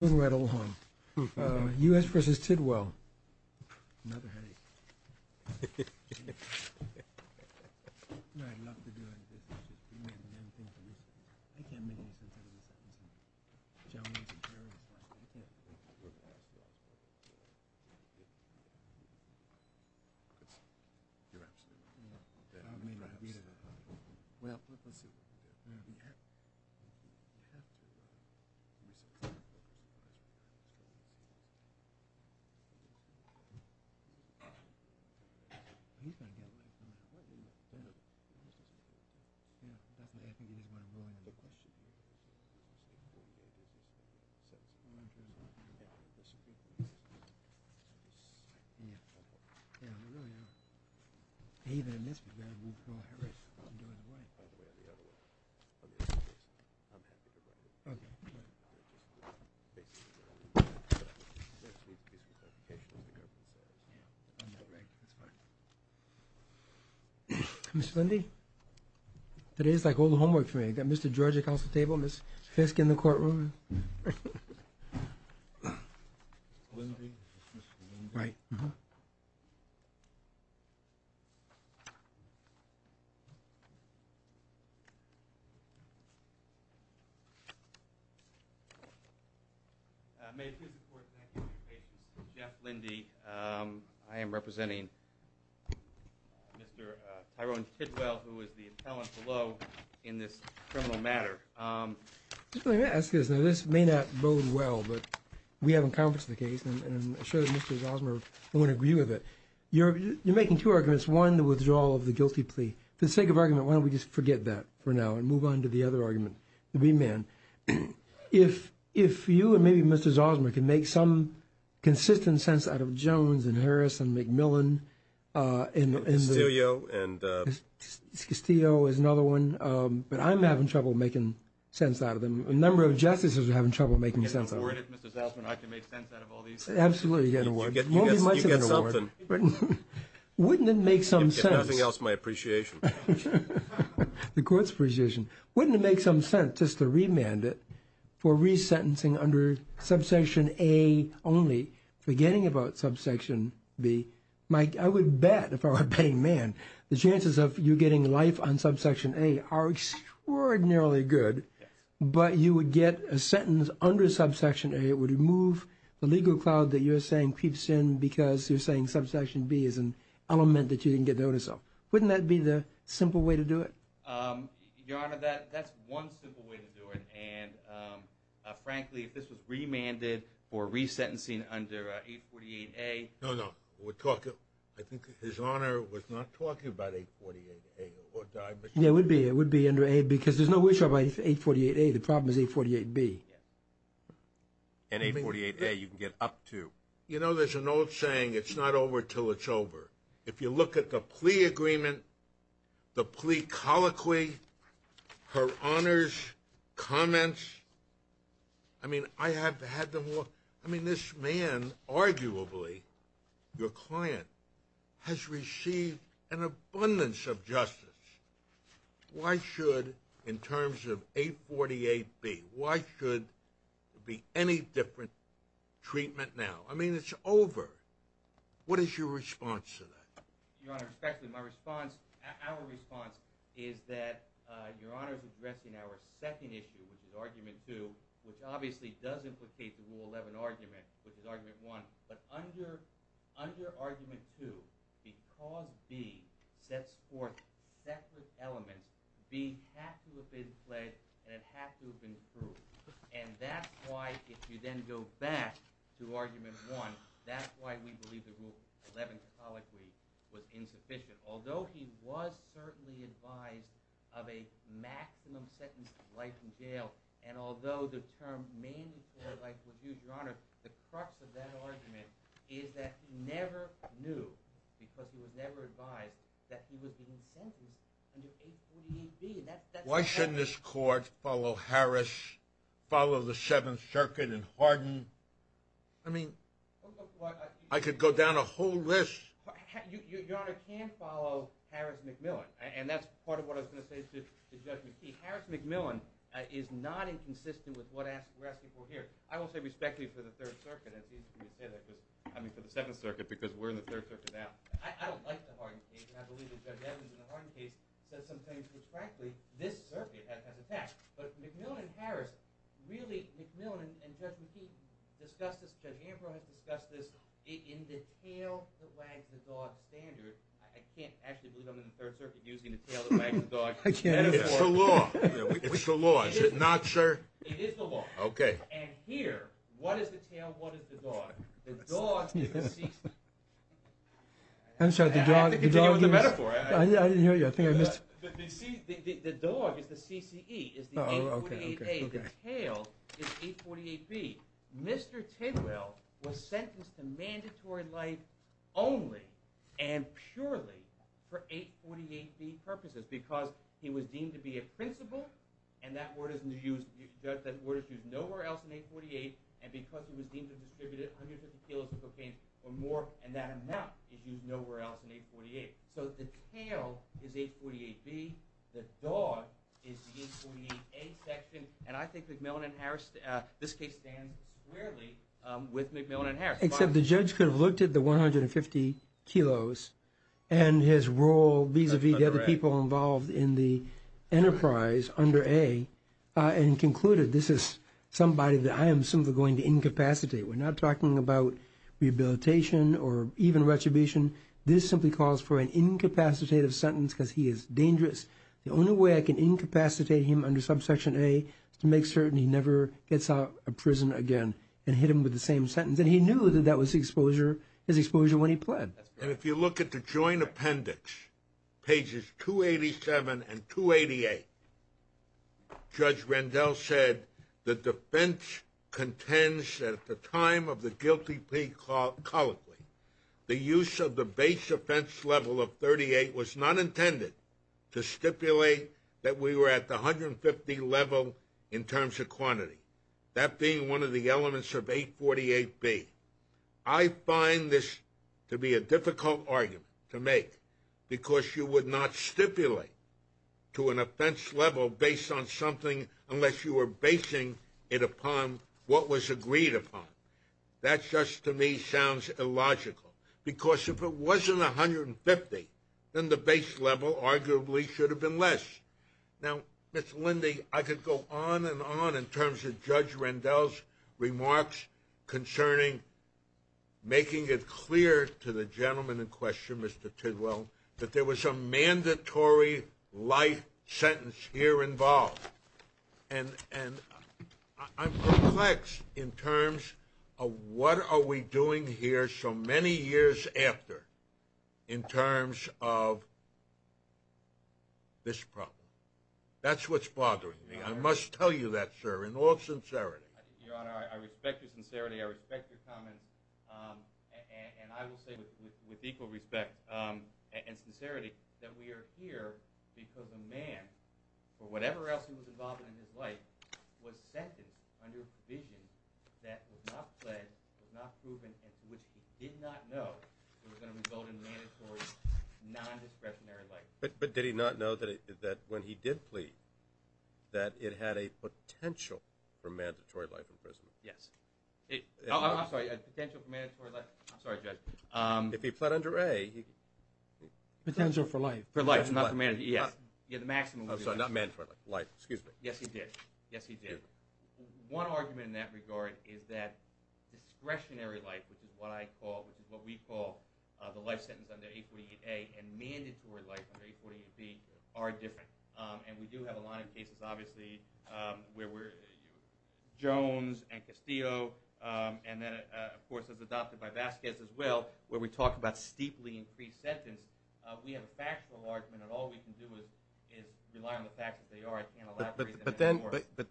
Little hung us versus Tidwell Mr. Lindy that is like all the homework for me that mr. Georgia council table miss Fisk in the courtroom Jeff Lindy I am representing mr. Tyrone Tidwell who is the talent below in this criminal matter this may not bode well but we haven't conference the case and I'm sure that mrs. Osmer won't agree with it you're making two arguments one the withdrawal of the guilty plea the sake of argument why don't we just forget that for now and move on to the other argument the mrs. Osmer can make some consistent sense out of Jones and Harris and Macmillan and Castillo is another one but I'm having trouble making sense out of them a number of justices are having trouble making sense absolutely wouldn't it make some sense else my appreciation the courts precision wouldn't it make some sense just to remand it for resentencing under subsection a only forgetting about subsection B Mike I would bet if I were paying man the chances of you getting life on subsection a are extraordinarily good but you would get a sentence under subsection a it would remove the legal cloud that you're saying keeps in because you're saying subsection B is an element that you didn't get notice of wouldn't that be the simple way to do it your honor that that's one simple way to do it and frankly if this was remanded for resentencing under a 48 a no no we're talking I think his honor was not talking about a 48 yeah would be it would be under a because there's no way somebody's a 48 a the problem is a 48 B and a 48 a you can get up to you know there's an old saying it's not over till it's over if you look at the plea agreement the plea colloquy her honors comments I mean I have had them look I mean this man arguably your client has received an abundance of justice why should in terms of 848 be why should be any different treatment now I mean it's over what is your response to that your honor respectfully my response our response is that your honor's addressing our second issue which is argument 2 which obviously does implicate the rule 11 argument which is argument 1 but under under argument 2 because B sets forth separate elements B has to have been pledged and it has to have been approved and that's why if you then go back to argument 1 that's why we believe the rule 11 colloquy was insufficient although he was certainly advised of a maximum sentence of life in jail and although the term mainly for life would use your honor the crux of that argument is that never knew because he was never advised that he was being sentenced why shouldn't this court follow Harris follow the Seventh Circuit and harden I mean I could go down a whole list discuss this discuss this in detail standard I can't actually believe I'm in the Third Circuit using the tail of my dog I can't it's the law it's the law it's not sure okay and here what is the tail what is the dog I'm sorry the dog with the metaphor I didn't hear you I think I missed the dog is the CCE is the tail is 848 B Mr. Tidwell was sentenced to mandatory life only and purely for 848 B purposes because he was deemed to be a principal and that word isn't used that word is used nowhere else in 848 and because he was deemed to distribute it 150 kilos of cocaine or more and that amount is used nowhere else in 848 so the tail is 848 B the dog is the 848 A section and I think McMillan and Harris this case stands squarely with McMillan and Harris except the judge could have looked at the 150 kilos and his role vis-a-vis the other people involved in the enterprise under a and concluded this is somebody that I am simply going to incapacitate we're not talking about rehabilitation or even retribution this simply calls for an incapacitative sentence because he is dangerous the only way I can incapacitate him under subsection a to make certain he never gets out of prison again and hit him with the same sentence and he knew that that was exposure his exposure when he pled and if you look at the joint appendix pages 287 and 288 judge Randall said the defense contends that at the time of the guilty plea colloquy the use of the base offense level of 38 was not intended to stipulate that we were at the 150 level in terms of quantity that being one of the elements of 848 B I find this to be a difficult argument to make because you would not stipulate to an offense level based on something unless you were basing it upon what was agreed upon that's just to me sounds illogical because if it wasn't a hundred and fifty then the base level arguably should have been less now it's Lindy I could go on and on in terms of judge Randall's remarks concerning making it clear to the gentleman in question mr. Tidwell that there was a mandatory life sentence here involved and and I'm flexed in terms of what are we doing here so many years after in terms of this problem that's what's bothering me I must tell you that sir in all sincerity I respect your sincerity I respect your comments and I will say with equal respect and sincerity that we are here because the whatever else he was involved in his life was sentenced under vision that was not pled not proven in which he did not know but did he not know that it that when he did plead that it had a potential for mandatory life imprisonment yes if he pled under a potential for life for life is not a man yes get the life excuse me yes he did yes he did one argument in that regard is that discretionary life which is what I call which is what we call the life sentence under a 48a and mandatory life under a 48b are different and we do have a lot of cases obviously where we're Jones and Castillo and then of course as adopted by Vasquez as well where we talked about steeply increased sentence we have a but then but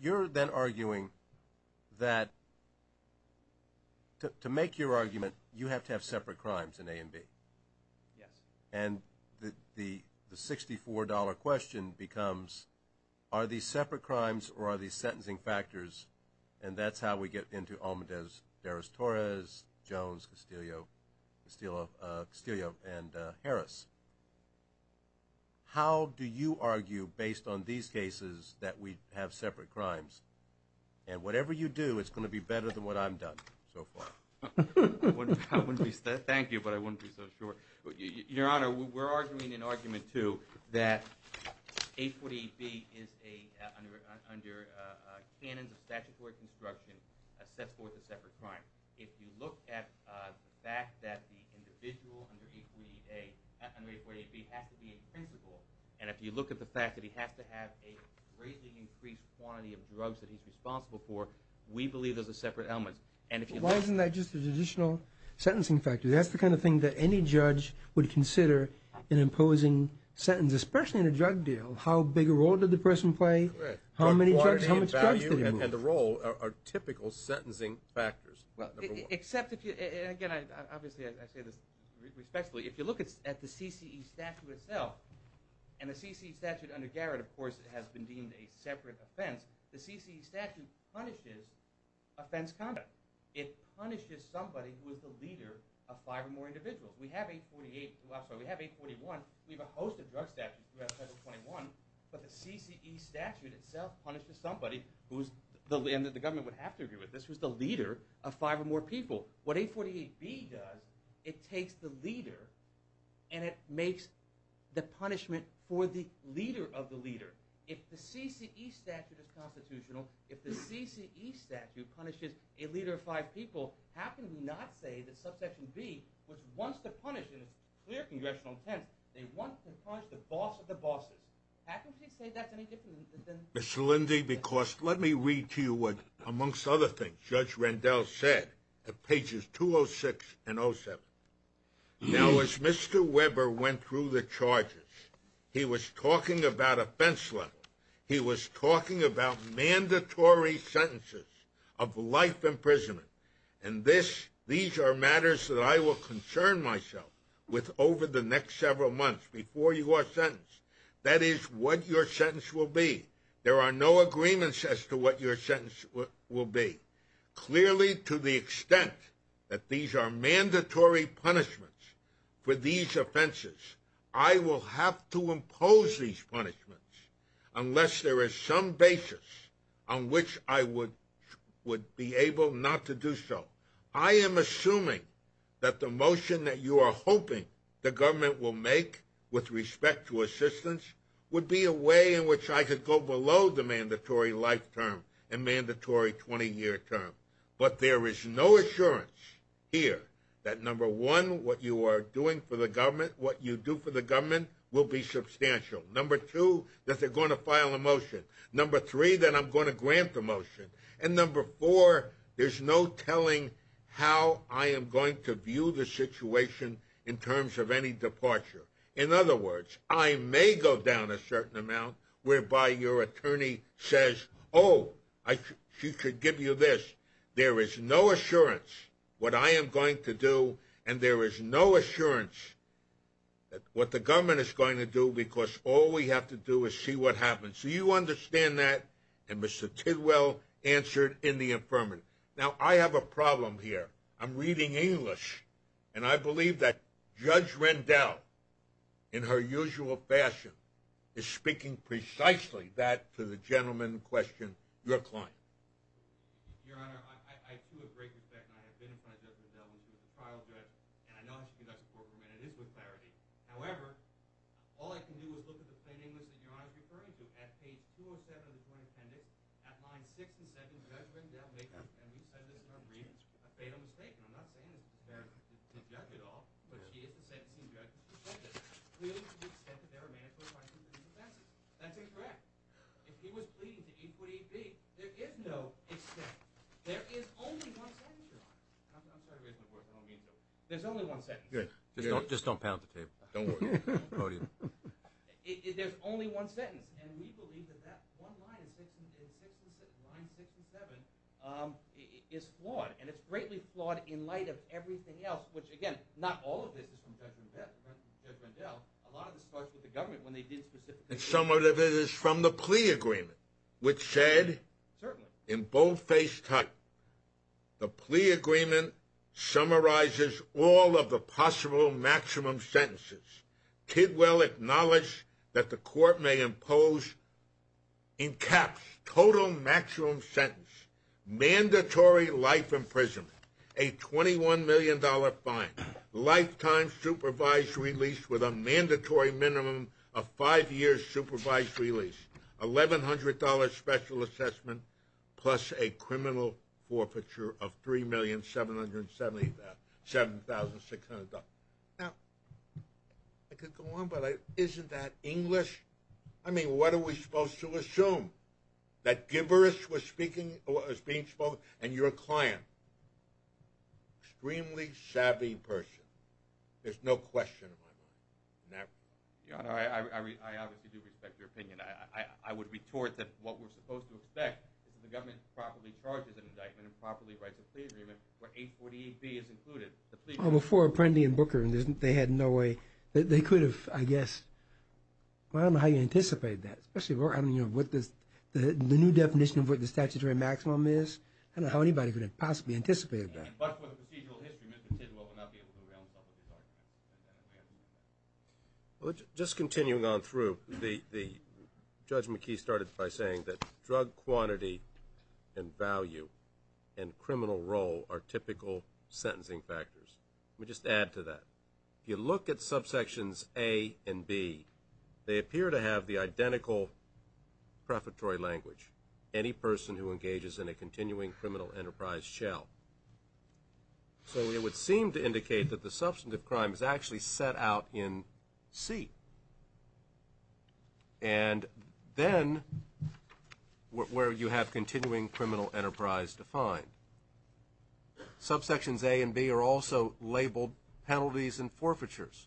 you're then arguing that to make your argument you have to have separate crimes in a and B yes and the the the $64 question becomes are these separate crimes or are these sentencing factors and that's how we get into Torres Jones Castillo Castillo and Harris how do you argue based on these cases that we have separate crimes and whatever you do it's going to be better than what I'm done thank you but I wouldn't be so sure your honor we're arguing an argument to that a 48b is a under cannons of statutory construction sets forth a separate crime if you look at the fact that the individual and if you look at the fact that he has to have a greatly increased quantity of drugs that he's responsible for we believe there's a separate element and if you why isn't that just an additional sentencing factor that's the kind of thing that any judge would consider in imposing sentence especially in a drug deal how big a role did the person play how many and the role are typical sentencing factors except if you look at the CCE statute itself and the CCE statute under Garrett of course it has been deemed a separate offense the CCE statute punishes offense conduct it punishes somebody who is the leader of five or more individuals we have a 48 we have a 41 we have a host of drug but the CCE statute itself punishes somebody who's the land that the government would have to agree with this was the leader of five or more people what a 48b does it takes the leader and it makes the punishment for the leader of the leader if the CCE statute is constitutional if the CCE statute punishes a leader of five people how can we not say that subsection B which wants to punish clear congressional intent they want to punish the boss of the bosses miss Lindy because let me read to you what amongst other things judge Rendell said at pages 206 and 07 now as mr. Weber went through the charges he was talking about offense level he was talking about mandatory sentences of life imprisonment and this these are matters that I will concern myself with over the next several months before you are sentenced that is what your sentence will be there are no agreements as to what your sentence will be clearly to the extent that these are mandatory punishments for these offenses I will have to impose these punishments unless there is some basis on which I would be able not to do so I am assuming that the motion that you are hoping the government will make with respect to assistance would be a way in which I could go below the mandatory life term and mandatory 20-year term but there is no assurance here that number one what you are doing for the government what you do for the government will be substantial number two that they're going to file a motion number three that I'm going to grant the motion and number four there's no telling how I am going to view the situation in terms of any departure in other words I may go down a certain amount whereby your attorney says oh I should give you this there is no assurance what I am going to do and there is no assurance what the government is going to do because all we have to do is see what happens so you understand that and mr. Tidwell answered in the affirmative now I have a problem here I'm reading English and I believe that judge Rendell in her usual fashion is speaking precisely that to the plain English that your honor is referring to at page 207 of the Joint Appendix at line 6 and 7, Judge Rendell makes a fatal mistake, and I'm not saying it's a fatal mistake at all, but she is the sentencing judge, clearly to the extent that there are mandatory five-year sentences. That's incorrect. If he was pleading to 8 foot 8 feet, there is no extent. There is only one sentence, your honor. I'm sorry to raise my voice, I don't mean to. There's only one sentence. Just don't pound the table. There's only one sentence, and we believe that line 6 and 7 is flawed, and it's greatly flawed in light of everything else, which again, not all of this is from Judge Rendell, a lot of this starts with the government when they did specifically. And some of it is from the plea agreement, which said, in boldface type, the plea agreement summarizes all of the possible maximum sentences. Tidwell acknowledged that the court may impose in caps, total maximum sentence, mandatory life imprisonment, a $21 million fine, lifetime supervised release with a mandatory minimum of five years' sentence. $1,100 special assessment, plus a criminal forfeiture of $3,777,600. Now, I could go on, but isn't that English? I mean, what are we supposed to assume? That Gibberish was being spoken, and you're a client. Extremely savvy person. There's no question in my mind. Now, Your Honor, I obviously do respect your opinion. I would retort that what we're supposed to expect is that the government properly charges an indictment and properly writes a plea agreement where 848B is included. Well, before Apprendi and Booker, they had no way. They could have, I guess. I don't know how you anticipate that, especially with the new definition of what the statutory maximum is. I don't know how anybody could have possibly anticipated that. I mean, but for the procedural history, Mr. Tidwell would not be able to around some of these arguments. So it would seem to indicate that the substantive crime is actually set out in C. And then where you have continuing criminal enterprise defined. Subsections A and B are also labeled penalties and forfeitures.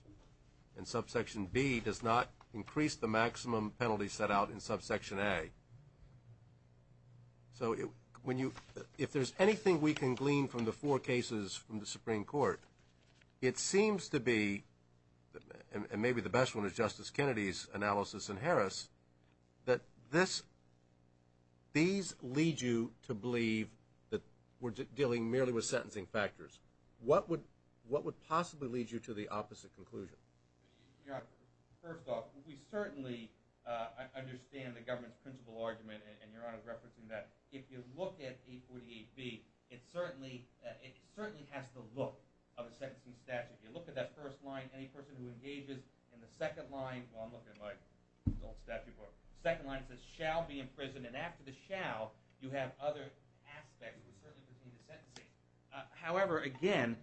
And subsection B does not increase the maximum penalty set out in subsection A. So if there's anything we can glean from the four cases from the Supreme Court, it seems to be, and maybe the best one is Justice Kennedy's analysis in Harris, that these lead you to believe that we're dealing merely with sentencing factors. What would possibly lead you to the opposite conclusion? Your Honor, first off, we certainly understand the government's principle argument, and Your Honor is referencing that. If you look at 848B, it certainly has the look of a sentencing statute. If you look at that first line, any person who engages in the second line, well, I'm looking at my adult statute book, the second line says, shall be imprisoned. And after the shall, you have other aspects which certainly pertain to sentencing. However, again,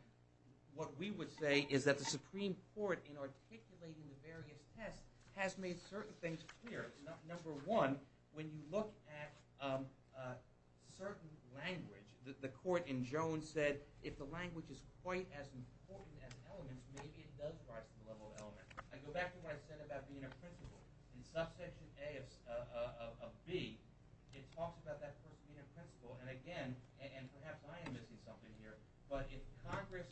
what we would say is that the Supreme Court, in articulating the various tests, has made certain things clear. Number one, when you look at certain language, the court in Jones said, if the language is quite as important as elements, maybe it does rise to the level of elements. I go back to what I said about being a principle. In subsection A of B, it talks about that person being a principle, and again, and perhaps I am missing something here, but if Congress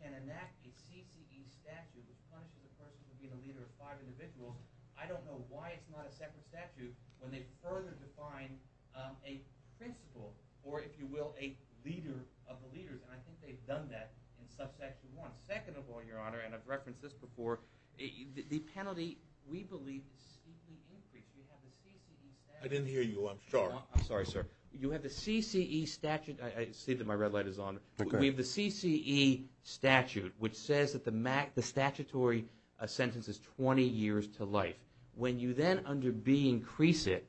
can enact a CCE statute which punishes a person for being the leader of five individuals, I don't know why it's not a separate statute when they further define a principle, or if you will, a leader of the leaders, and I think they've done that in subsection 1. Second of all, Your Honor, and I've referenced this before, the penalty we believe is steeply increased. You have the CCE statute. I didn't hear you. I'm sorry, sir. You have the CCE statute. I see that my red light is on. We have the CCE statute which says that the statutory sentence is 20 years to life. When you then under B increase it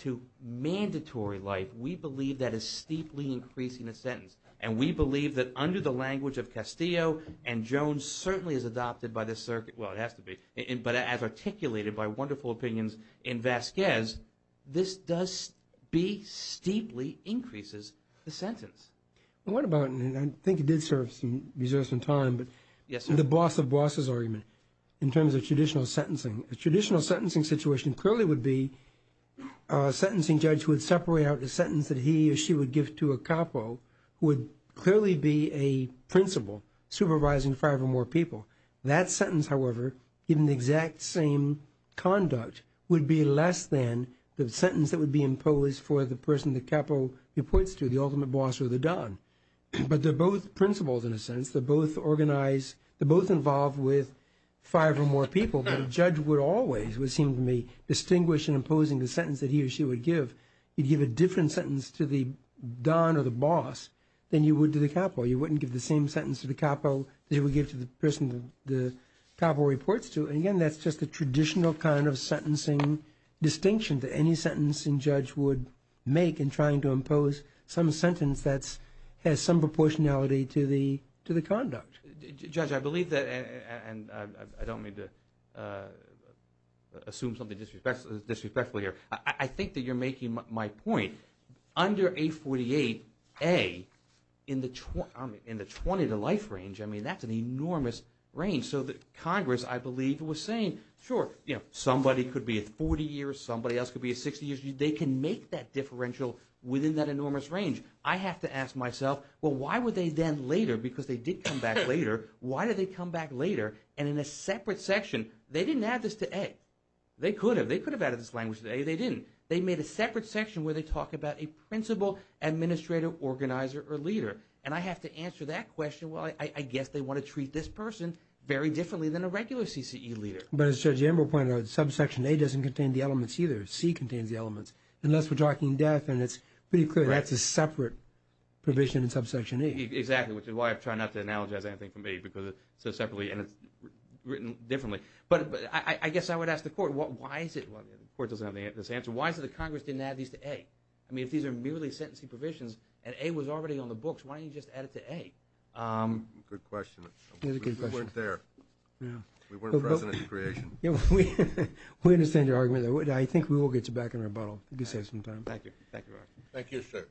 to mandatory life, we believe that is steeply increasing the sentence, and we believe that under the language of Castillo and Jones, certainly as adopted by the circuit, well, it has to be, but as articulated by wonderful opinions in Vasquez, this does, B, steeply increases the sentence. Well, what about, and I think it did serve some time, but the boss of bosses argument in terms of traditional sentencing. A traditional sentencing situation clearly would be a sentencing judge would separate out the sentence that he or she would give to a capo would clearly be a principle supervising five or more people. That sentence, however, given the exact same conduct, would be less than the sentence that would be imposed for the person the capo reports to, the ultimate boss or the don. But they're both principles in a sense. They're both organized. They're both involved with five or more people, but a judge would always, it would seem to me, distinguish in imposing the sentence that he or she would give. You'd give a different sentence to the don or the boss than you would to the capo. You wouldn't give the same sentence to the capo that you would give to the person the capo reports to. And again, that's just a traditional kind of sentencing distinction that any sentencing judge would make in trying to impose some sentence that has some proportionality to the conduct. Judge, I believe that, and I don't mean to assume something disrespectful here. I think that you're making my point. Under 848A, in the 20-to-life range, I mean, that's an enormous range. So the Congress, I believe, was saying, sure, somebody could be at 40 years, somebody else could be at 60 years. They can make that differential within that enormous range. I have to ask myself, well, why would they then later, because they did come back later, why did they come back later? And in a separate section, they didn't add this to A. They could have. They could have added this language to A. They didn't. They made a separate section where they talk about a principal, administrator, organizer, or leader. And I have to answer that question, well, I guess they want to treat this person very differently than a regular CCE leader. But as Judge Amber pointed out, subsection A doesn't contain the elements either. C contains the elements. Unless we're talking death, and it's pretty clear that's a separate provision in subsection A. Exactly, which is why I try not to analogize anything from A, because it says separately, and it's written differently. But I guess I would ask the Court, why is it, the Court doesn't have this answer, why is it that Congress didn't add these to A? I mean, if these are merely sentencing provisions, and A was already on the books, why didn't you just add it to A? Good question. We weren't there. We weren't present at the creation. We understand your argument. I think we will get you back in rebuttal, if you save some time. Thank you. Thank you, sir.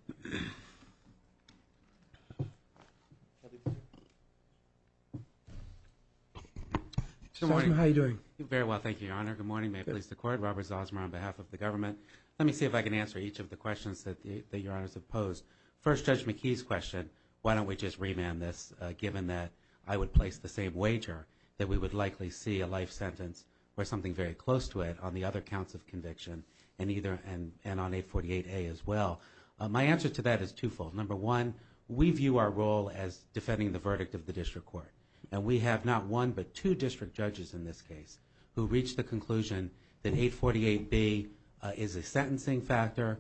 Zosmer, how are you doing? Very well, thank you, Your Honor. Good morning. May it please the Court. Robert Zosmer on behalf of the government. Let me see if I can answer each of the questions that Your Honors have posed. First, Judge McKee's question, why don't we just remand this, given that I would place the same wager, that we would likely see a life sentence, or something very close to it, on the other counts of conviction, and on 848A as well. My answer to that is twofold. Number one, we view our role as defending the verdict of the district court, and we have not one but two district judges in this case who reached the conclusion that 848B is a sentencing factor,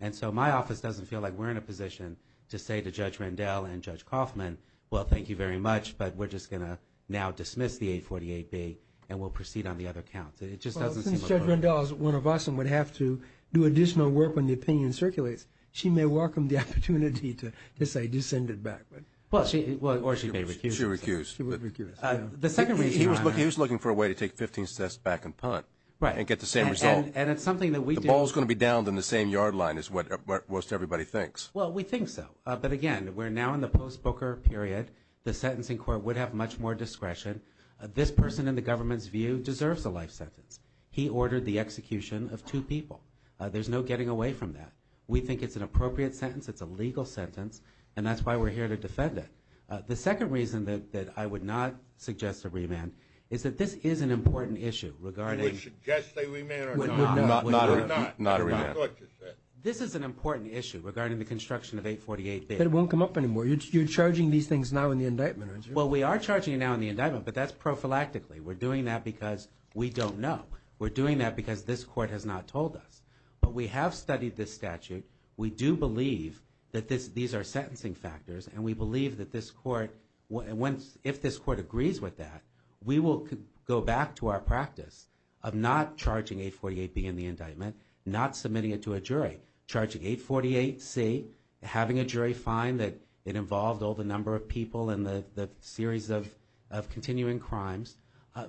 and so my office doesn't feel like we're in a position to say to Judge Rendell and Judge Kaufman, well, thank you very much, but we're just going to now dismiss the 848B, and we'll proceed on the other counts. It just doesn't seem appropriate. Well, since Judge Rendell is one of us and would have to do additional work when the opinion circulates, she may welcome the opportunity to say, do send it back. Or she may recuse it. She would recuse it. She would recuse it. The second reason, Your Honor. He was looking for a way to take 15 sets back and punt and get the same result. And it's something that we do. The ball is going to be downed in the same yard line is what most everybody thinks. Well, we think so. But, again, we're now in the post-Booker period. The sentencing court would have much more discretion. This person, in the government's view, deserves a life sentence. He ordered the execution of two people. There's no getting away from that. We think it's an appropriate sentence. It's a legal sentence, and that's why we're here to defend it. The second reason that I would not suggest a remand is that this is an important issue regarding. Not a remand. This is an important issue regarding the construction of 848. But it won't come up anymore. You're charging these things now in the indictment, aren't you? Well, we are charging it now in the indictment, but that's prophylactically. We're doing that because we don't know. We're doing that because this court has not told us. But we have studied this statute. We do believe that these are sentencing factors, and we believe that this court, if this court agrees with that, we will go back to our practice of not charging 848B in the indictment, not submitting it to a jury. Charging 848C, having a jury find that it involved all the number of people in the series of continuing crimes.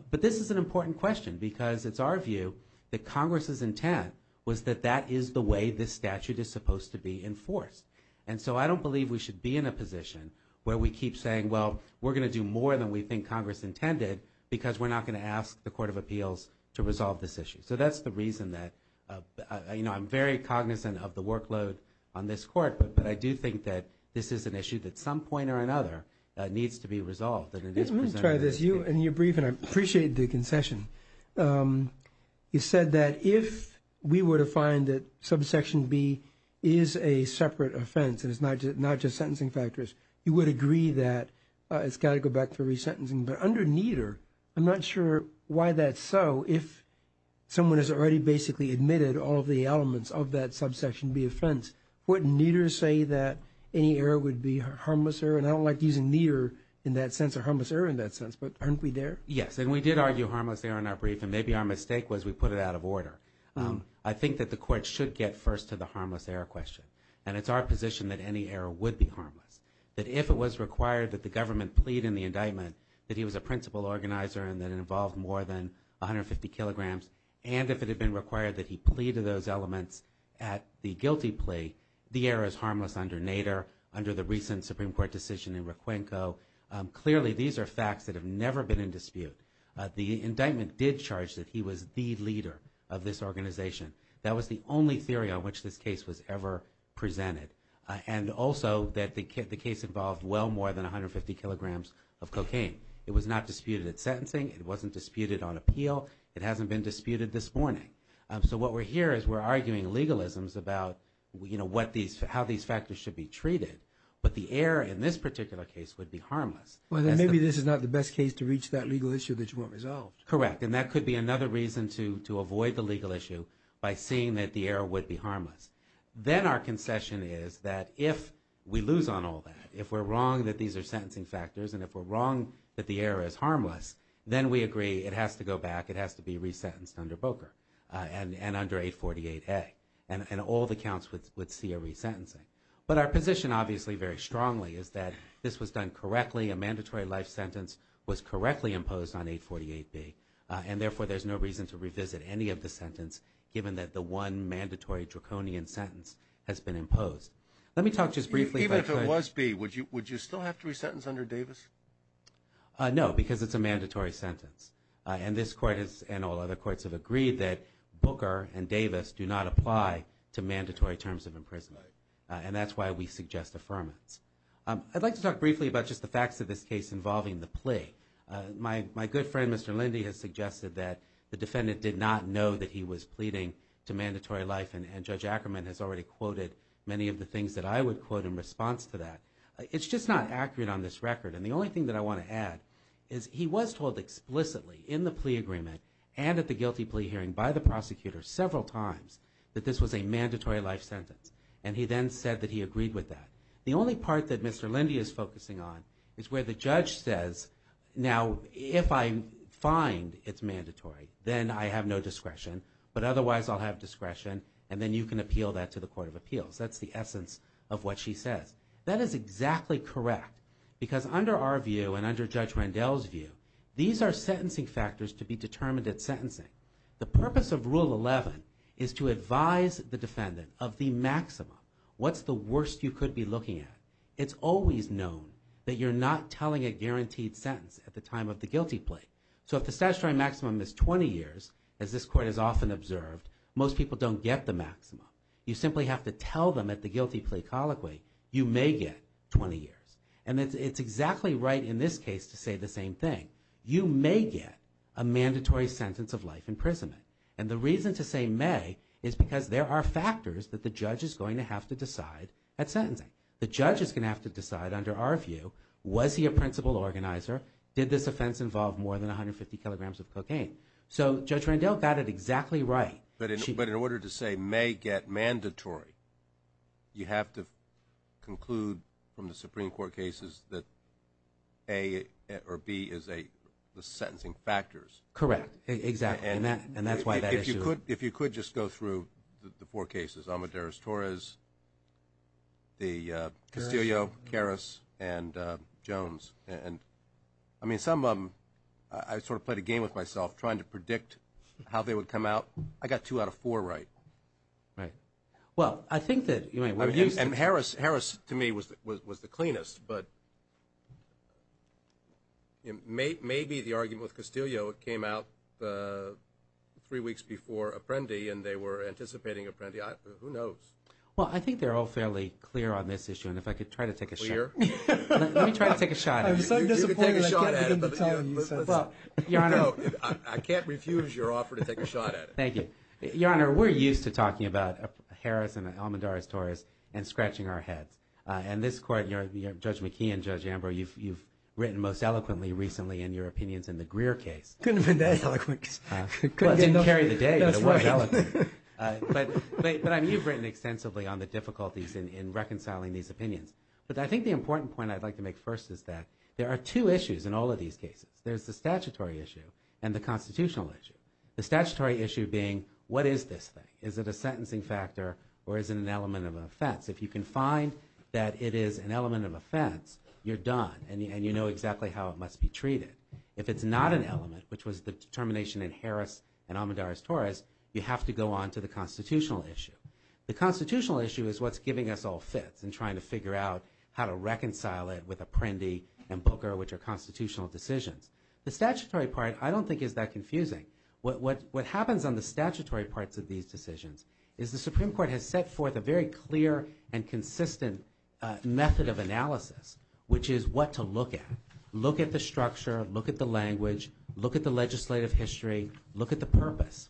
But this is an important question because it's our view that Congress's intent was that that is the way this statute is supposed to be enforced. And so I don't believe we should be in a position where we keep saying, well, we're going to do more than we think Congress intended because we're not going to ask the Court of Appeals to resolve this issue. So that's the reason that, you know, I'm very cognizant of the workload on this court, but I do think that this is an issue that at some point or another needs to be resolved. Let me try this. And you're brief, and I appreciate the concession. You said that if we were to find that subsection B is a separate offense and it's not just sentencing factors, you would agree that it's got to go back to resentencing. But under Nieder, I'm not sure why that's so. If someone has already basically admitted all of the elements of that subsection B offense, wouldn't Nieder say that any error would be a harmless error? And I don't like using Nieder in that sense or harmless error in that sense, but aren't we there? Yes, and we did argue harmless error in our brief, and maybe our mistake was we put it out of order. I think that the court should get first to the harmless error question, and it's our position that any error would be harmless, that if it was required that the government plead in the indictment that he was a principal organizer and that it involved more than 150 kilograms, and if it had been required that he plead to those elements at the guilty plea, the error is harmless under Nieder, under the recent Supreme Court decision in Requenco. Clearly, these are facts that have never been in dispute. The indictment did charge that he was the leader of this organization. That was the only theory on which this case was ever presented, and also that the case involved well more than 150 kilograms of cocaine. It was not disputed at sentencing. It wasn't disputed on appeal. It hasn't been disputed this morning. So what we're here is we're arguing legalisms about how these factors should be treated, but the error in this particular case would be harmless. Maybe this is not the best case to reach that legal issue that you want resolved. Correct, and that could be another reason to avoid the legal issue by seeing that the error would be harmless. Then our concession is that if we lose on all that, if we're wrong that these are sentencing factors, and if we're wrong that the error is harmless, then we agree it has to go back, it has to be resentenced under Boker and under 848A, and all the counts would see a resentencing. But our position obviously very strongly is that this was done correctly. A mandatory life sentence was correctly imposed on 848B, and therefore there's no reason to revisit any of the sentence given that the one mandatory draconian sentence has been imposed. Let me talk just briefly about... Even if it was B, would you still have to resentence under Davis? No, because it's a mandatory sentence, and this court and all other courts have agreed that and that's why we suggest affirmance. I'd like to talk briefly about just the facts of this case involving the plea. My good friend, Mr. Lindy, has suggested that the defendant did not know that he was pleading to mandatory life, and Judge Ackerman has already quoted many of the things that I would quote in response to that. It's just not accurate on this record, and the only thing that I want to add is he was told explicitly in the plea agreement and at the guilty plea hearing by the prosecutor several times that this was a mandatory life sentence, and he then said that he agreed with that. The only part that Mr. Lindy is focusing on is where the judge says, now, if I find it's mandatory, then I have no discretion, but otherwise I'll have discretion, and then you can appeal that to the Court of Appeals. That's the essence of what she says. That is exactly correct, because under our view and under Judge Randell's view, these are sentencing factors to be determined at sentencing. The purpose of Rule 11 is to advise the defendant of the maximum. What's the worst you could be looking at? It's always known that you're not telling a guaranteed sentence at the time of the guilty plea, so if the statutory maximum is 20 years, as this Court has often observed, most people don't get the maximum. You simply have to tell them at the guilty plea colloquy, you may get 20 years, and it's exactly right in this case to say the same thing. You may get a mandatory sentence of life imprisonment, and the reason to say may is because there are factors that the judge is going to have to decide at sentencing. The judge is going to have to decide under our view, was he a principal organizer, did this offense involve more than 150 kilograms of cocaine? So Judge Randell got it exactly right. But in order to say may get mandatory, you have to conclude from the Supreme Court cases that A or B is the sentencing factors. Correct, exactly, and that's why that issue. If you could just go through the four cases, Amadeus Torres, Castillo, Harris, and Jones. I mean, some of them I sort of played a game with myself trying to predict how they would come out. I got two out of four right. Right. Well, I think that you might want to use this. I mean, Harris to me was the cleanest, but maybe the argument with Castillo, it came out three weeks before Apprendi, and they were anticipating Apprendi. Who knows? Well, I think they're all fairly clear on this issue, and if I could try to take a shot. Clear? Let me try to take a shot at it. I'm so disappointed I can't begin to tell you. Your Honor. I can't refuse your offer to take a shot at it. Thank you. Your Honor, we're used to talking about Harris and Amadeus Torres and scratching our heads. And this Court, Judge McKee and Judge Ambrose, you've written most eloquently recently in your opinions in the Greer case. Couldn't have been that eloquent. It didn't carry the day, but it was eloquent. But you've written extensively on the difficulties in reconciling these opinions. But I think the important point I'd like to make first is that there are two issues in all of these cases. There's the statutory issue and the constitutional issue. The statutory issue being what is this thing? Is it a sentencing factor or is it an element of offense? If you can find that it is an element of offense, you're done and you know exactly how it must be treated. If it's not an element, which was the determination in Harris and Amadeus Torres, you have to go on to the constitutional issue. The constitutional issue is what's giving us all fits and trying to figure out how to reconcile it with Apprendi and Booker, which are constitutional decisions. The statutory part I don't think is that confusing. What happens on the statutory parts of these decisions is the Supreme Court has set forth a very clear and consistent method of analysis, which is what to look at. Look at the structure, look at the language, look at the legislative history, look at the purpose.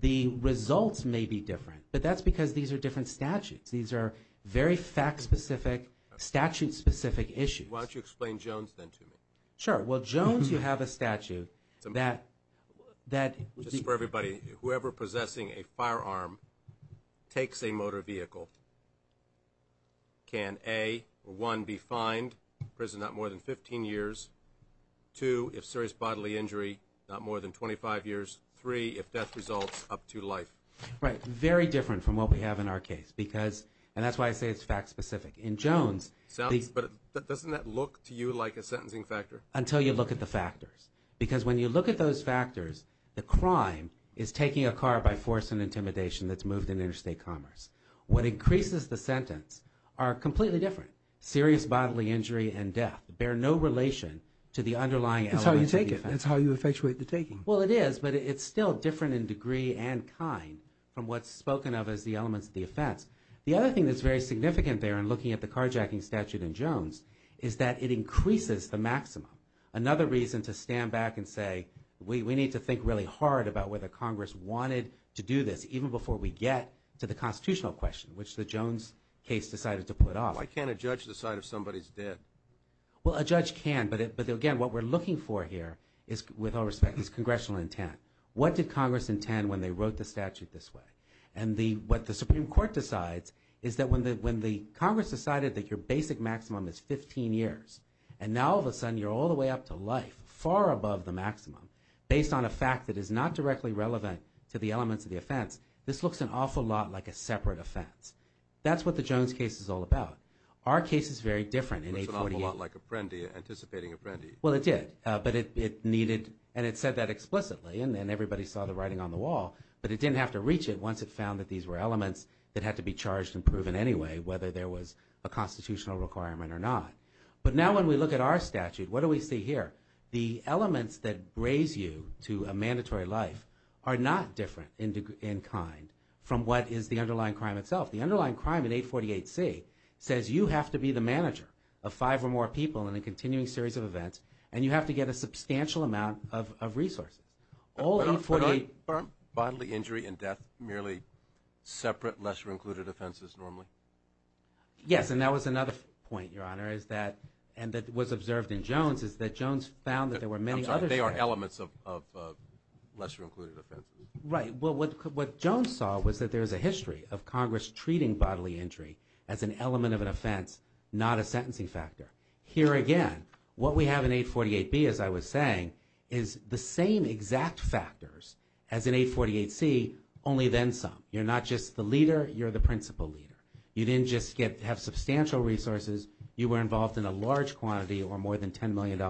The results may be different, but that's because these are different statutes. These are very fact-specific, statute-specific issues. Why don't you explain Jones, then, to me? Sure. Well, Jones, you have a statute that... Just for everybody, whoever possessing a firearm takes a motor vehicle, can, A, 1, be fined, prison not more than 15 years, 2, if serious bodily injury, not more than 25 years, 3, if death results, up to life. Right. Very different from what we have in our case, and that's why I say it's fact-specific. In Jones... But doesn't that look to you like a sentencing factor? Until you look at the factors, because when you look at those factors, the crime is taking a car by force and intimidation that's moved in interstate commerce. What increases the sentence are completely different. Serious bodily injury and death bear no relation to the underlying elements of the offense. That's how you take it. That's how you effectuate the taking. Well, it is, but it's still different in degree and kind from what's spoken of as the elements of the offense. The other thing that's very significant there in looking at the carjacking statute in Jones is that it increases the maximum. Another reason to stand back and say, we need to think really hard about whether Congress wanted to do this even before we get to the constitutional question, which the Jones case decided to put off. Why can't a judge decide if somebody's dead? Well, a judge can, but again, what we're looking for here is, with all respect, is congressional intent. What did Congress intend when they wrote the statute this way? And what the Supreme Court decides is that when the Congress decided that your basic maximum is 15 years, and now all of a sudden you're all the way up to life, far above the maximum, based on a fact that is not directly relevant to the elements of the offense, this looks an awful lot like a separate offense. That's what the Jones case is all about. Our case is very different in 848. It's an awful lot like Apprendi, anticipating Apprendi. Well, it did, but it needed... And it said that explicitly, and everybody saw the writing on the wall, but it didn't have to reach it once it found that these were elements that had to be charged and proven anyway, whether there was a constitutional requirement or not. But now when we look at our statute, what do we see here? The elements that raise you to a mandatory life are not different in kind from what is the underlying crime itself. The underlying crime in 848C says you have to be the manager of five or more people in a continuing series of events, and you have to get a substantial amount of resources. All 848... But aren't bodily injury and death merely separate, lesser-included offenses normally? Yes, and that was another point, Your Honor, and that was observed in Jones, is that Jones found that there were many other... I'm sorry, they are elements of lesser-included offenses. Right. Well, what Jones saw was that there is a history of Congress treating bodily injury as an element of an offense, not a sentencing factor. Here again, what we have in 848B, as I was saying, is the same exact factors as in 848C, only then some. You're not just the leader, you're the principal leader. You didn't just have substantial resources, you were involved in a large quantity or more than $10 million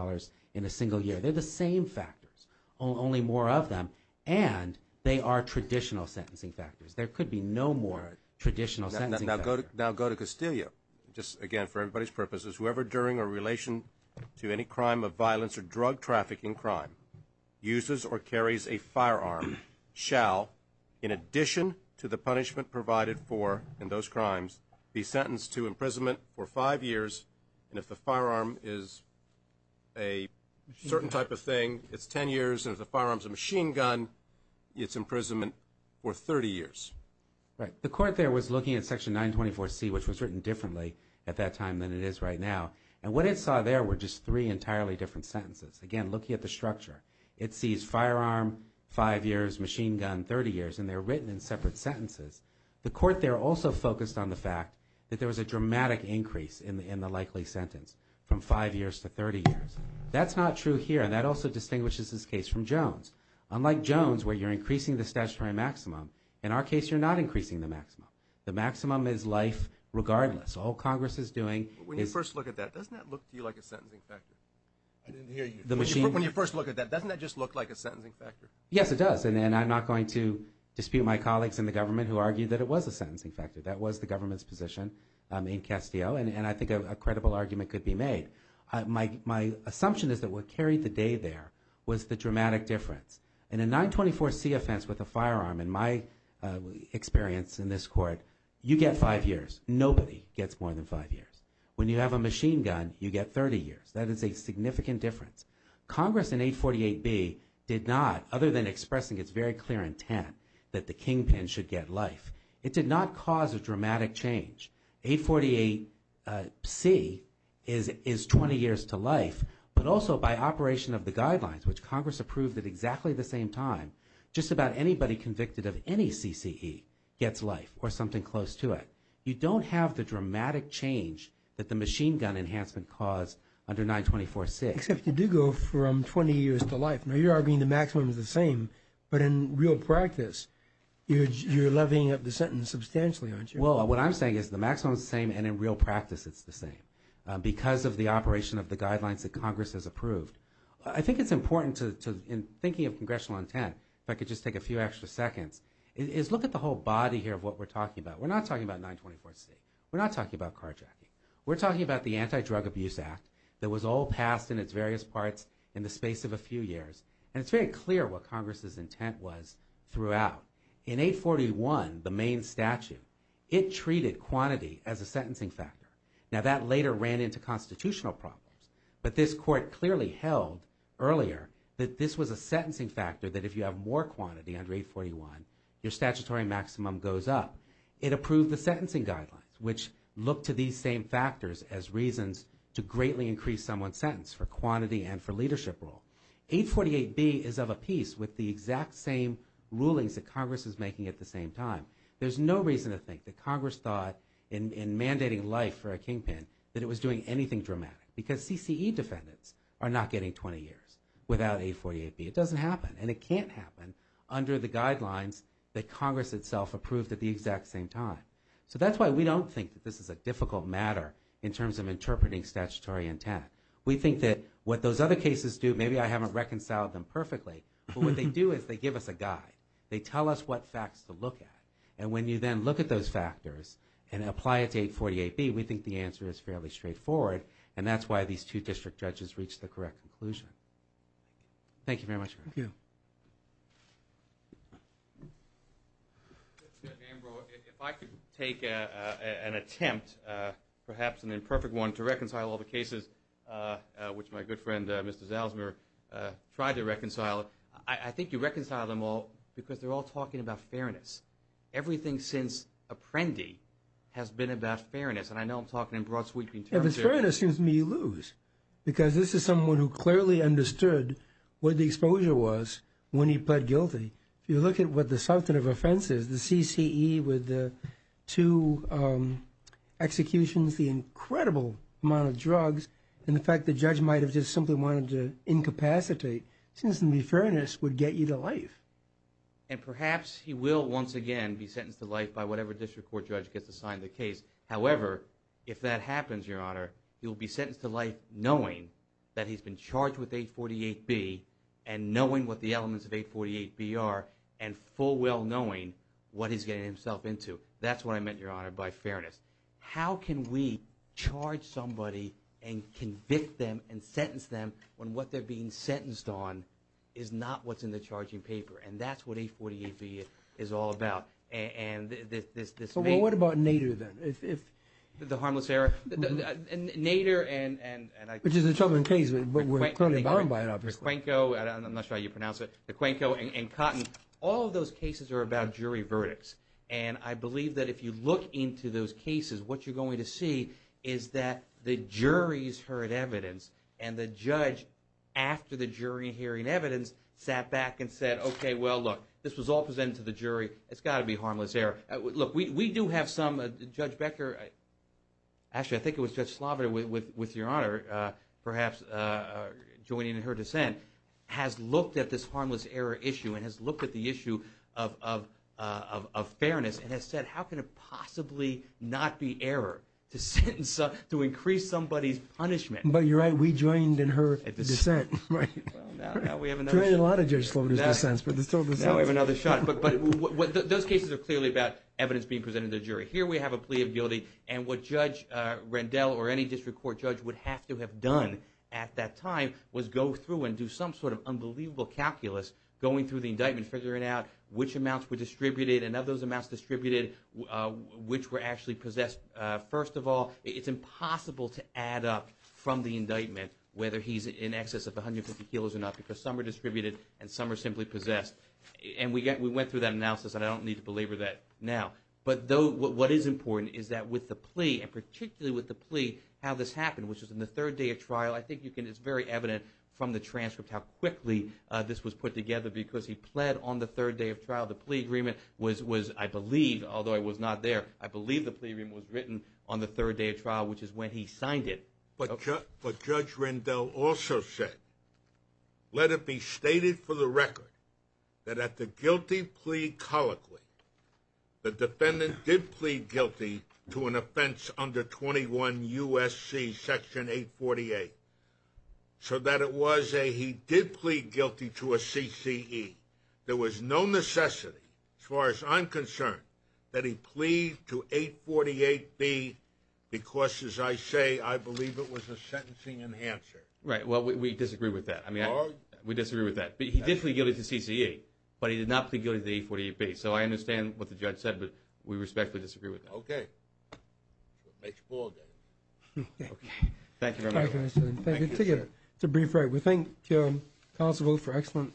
in a single year. They're the same factors, only more of them, and they are traditional sentencing factors. There could be no more traditional sentencing factors. Now go to Castillo. Just again, for everybody's purposes, whoever during a relation to any crime of violence or drug trafficking crime uses or carries a firearm shall, in addition to the punishment provided for in those crimes, be sentenced to imprisonment for 5 years, and if the firearm is a certain type of thing, it's 10 years, and if the firearm's a machine gun, it's imprisonment for 30 years. Right. The court there was looking at Section 924C, which was written differently at that time than it is right now, and what it saw there were just three entirely different sentences. Again, looking at the structure, it sees firearm, 5 years, machine gun, 30 years, and they're written in separate sentences. The court there also focused on the fact that there was a dramatic increase in the likely sentence from 5 years to 30 years. That's not true here, and that also distinguishes this case from Jones. Unlike Jones, where you're increasing the statutory maximum, in our case, you're not increasing the maximum. The maximum is life regardless. All Congress is doing is... When you first look at that, doesn't that just look like a sentencing factor? Yes, it does, and I'm not going to dispute my colleagues in the government who argue that it was a sentencing factor. That was the government's position in Castillo, and I think a credible argument could be made. My assumption is that what carried the day there was the dramatic difference. In a 924C offense with a firearm, in my experience in this court, you get 5 years. Nobody gets more than 5 years. When you have a machine gun, you get 30 years. That is a significant difference. Congress in 848B did not, other than expressing its very clear intent that the kingpin should get life, it did not cause a dramatic change. 848C is 20 years to life, but also by operation of the guidelines, which Congress approved at exactly the same time, just about anybody convicted of any CCE gets life or something close to it. You don't have the dramatic change that the machine gun enhancement could cause under 924C. Except you do go from 20 years to life. Now, you're arguing the maximum is the same, but in real practice, you're levying up the sentence substantially, aren't you? Well, what I'm saying is the maximum is the same and in real practice it's the same because of the operation of the guidelines that Congress has approved. I think it's important to, in thinking of congressional intent, if I could just take a few extra seconds, is look at the whole body here of what we're talking about. We're not talking about 924C. We're not talking about carjacking. We're talking about the Anti-Drug Abuse Act that was all passed in its various parts in the space of a few years, and it's very clear what Congress's intent was throughout. In 841, the main statute, it treated quantity as a sentencing factor. Now, that later ran into constitutional problems, but this court clearly held earlier that this was a sentencing factor that if you have more quantity under 841, your statutory maximum goes up. It approved the sentencing guidelines, which look to these same factors as reasons to greatly increase someone's sentence for quantity and for leadership role. 848B is of a piece with the exact same rulings that Congress is making at the same time. There's no reason to think that Congress thought in mandating life for a kingpin that it was doing anything dramatic because CCE defendants are not getting 20 years without 848B. It doesn't happen, and it can't happen under the guidelines that Congress itself approved at the exact same time. So that's why we don't think that this is a difficult matter in terms of interpreting statutory intent. We think that what those other cases do, maybe I haven't reconciled them perfectly, but what they do is they give us a guide. They tell us what facts to look at, and when you then look at those factors and apply it to 848B, we think the answer is fairly straightforward, and that's why these two district judges reached the correct conclusion. Thank you very much. Mr. Ambrose, if I could take an attempt, perhaps an imperfect one, to reconcile all the cases which my good friend Mr. Zalzmer tried to reconcile, I think you reconcile them all because they're all talking about fairness. Everything since Apprendi has been about fairness, and I know I'm talking in broad sweeping terms here. Fairness seems to me you lose because this is someone who clearly understood what the exposure was when he pled guilty. If you look at what the substantive offense is, the CCE with the two executions, the incredible amount of drugs, and the fact the judge might have just simply wanted to incapacitate, it seems to me fairness would get you to life. And perhaps he will once again be sentenced to life by whatever district court judge gets assigned the case. However, if that happens, Your Honor, he'll be sentenced to life knowing that he's been charged with 848B, and knowing what the elements of 848B are, and full well knowing what he's getting himself into. That's what I meant, Your Honor, by fairness. How can we charge somebody and convict them and sentence them when what they're being sentenced on is not what's in the charging paper? And that's what 848B is all about. So what about Nader then? The Harmless Error? Which is a troubling case, but we're currently bound by it, obviously. The Cuenco, I'm not sure how you pronounce it, the Cuenco and Cotton, all of those cases are about jury verdicts. And I believe that if you look into those cases, what you're going to see is that the jury's heard evidence, and the judge after the jury hearing evidence sat back and said, okay, well, look, this was all presented to the jury. It's got to be Harmless Error. Look, we do have some, Judge Becker, actually, I think it was Judge Sloboda with Your Honor, perhaps joining in her dissent, has looked at this Harmless Error issue and has looked at the issue of fairness and has said, how can it possibly not be error to sentence, to increase somebody's punishment? But you're right, we joined in her dissent. Right. Now we have another shot. Now we have another shot. But those cases are clearly about evidence being presented to the jury. Here we have a plea of guilty, and what Judge Rendell or any district court judge would have to have done at that time was go through and do some sort of unbelievable calculus going through the indictment figuring out which amounts were distributed and of those amounts distributed, which were actually possessed. First of all, it's impossible to add up from the indictment whether he's in excess of 150 kilos or not because some are distributed and some are simply possessed. And we went through that analysis, and I don't need to belabor that now. But what is important is that with the plea, and particularly with the plea, how this happened, which was in the third day of trial, I think you can, it's very evident from the transcript how quickly this was put together because he pled on the third day of trial. The plea agreement was, I believe, although I was not there, I believe the plea agreement was written on the third day of trial, which is when he signed it. But Judge Rendell also said, let it be stated for the record that at the guilty plea colloquy, the defendant did plead guilty to an offense under 21 USC section 848. So that it was a, he did plead guilty to a CCE. There was no necessity, as far as I'm concerned, that he plead to 848B because, as I say, I believe it was a sentencing enhancer. Right. Well, we disagree with that. We disagree with that. But he did plead guilty to CCE, but he did not plead guilty to the 848B. So I understand what the judge said, but we respectfully disagree with that. Okay. Okay. Thank you very much. Thank you. That's a brief right. We thank counsel for an excellent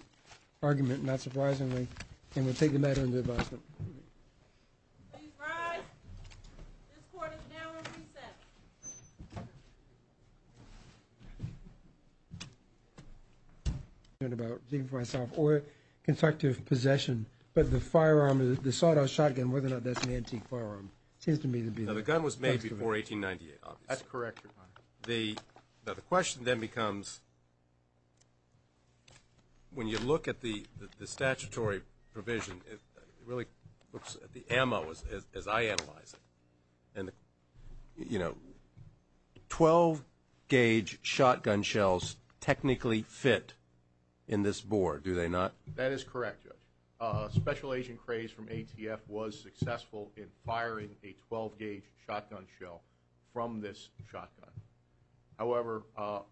argument, not surprisingly. And we'll take the matter into advisement. Please rise. This court is now in recess. ...thinking for myself, or constructive possession, but the firearm, the sawed-off shotgun, whether or not that's an antique firearm, seems to me to be... Now, the gun was made before 1898, obviously. That's correct, Your Honor. Now, the question then becomes, when you look at the statutory provision, it really looks at the ammo, as I analyze it. You know, 12-gauge shotgun shells technically fit in this board, do they not? That is correct, Judge. Special Agent Krays from ATF was successful in firing a 12-gauge shotgun shell from this shotgun. However,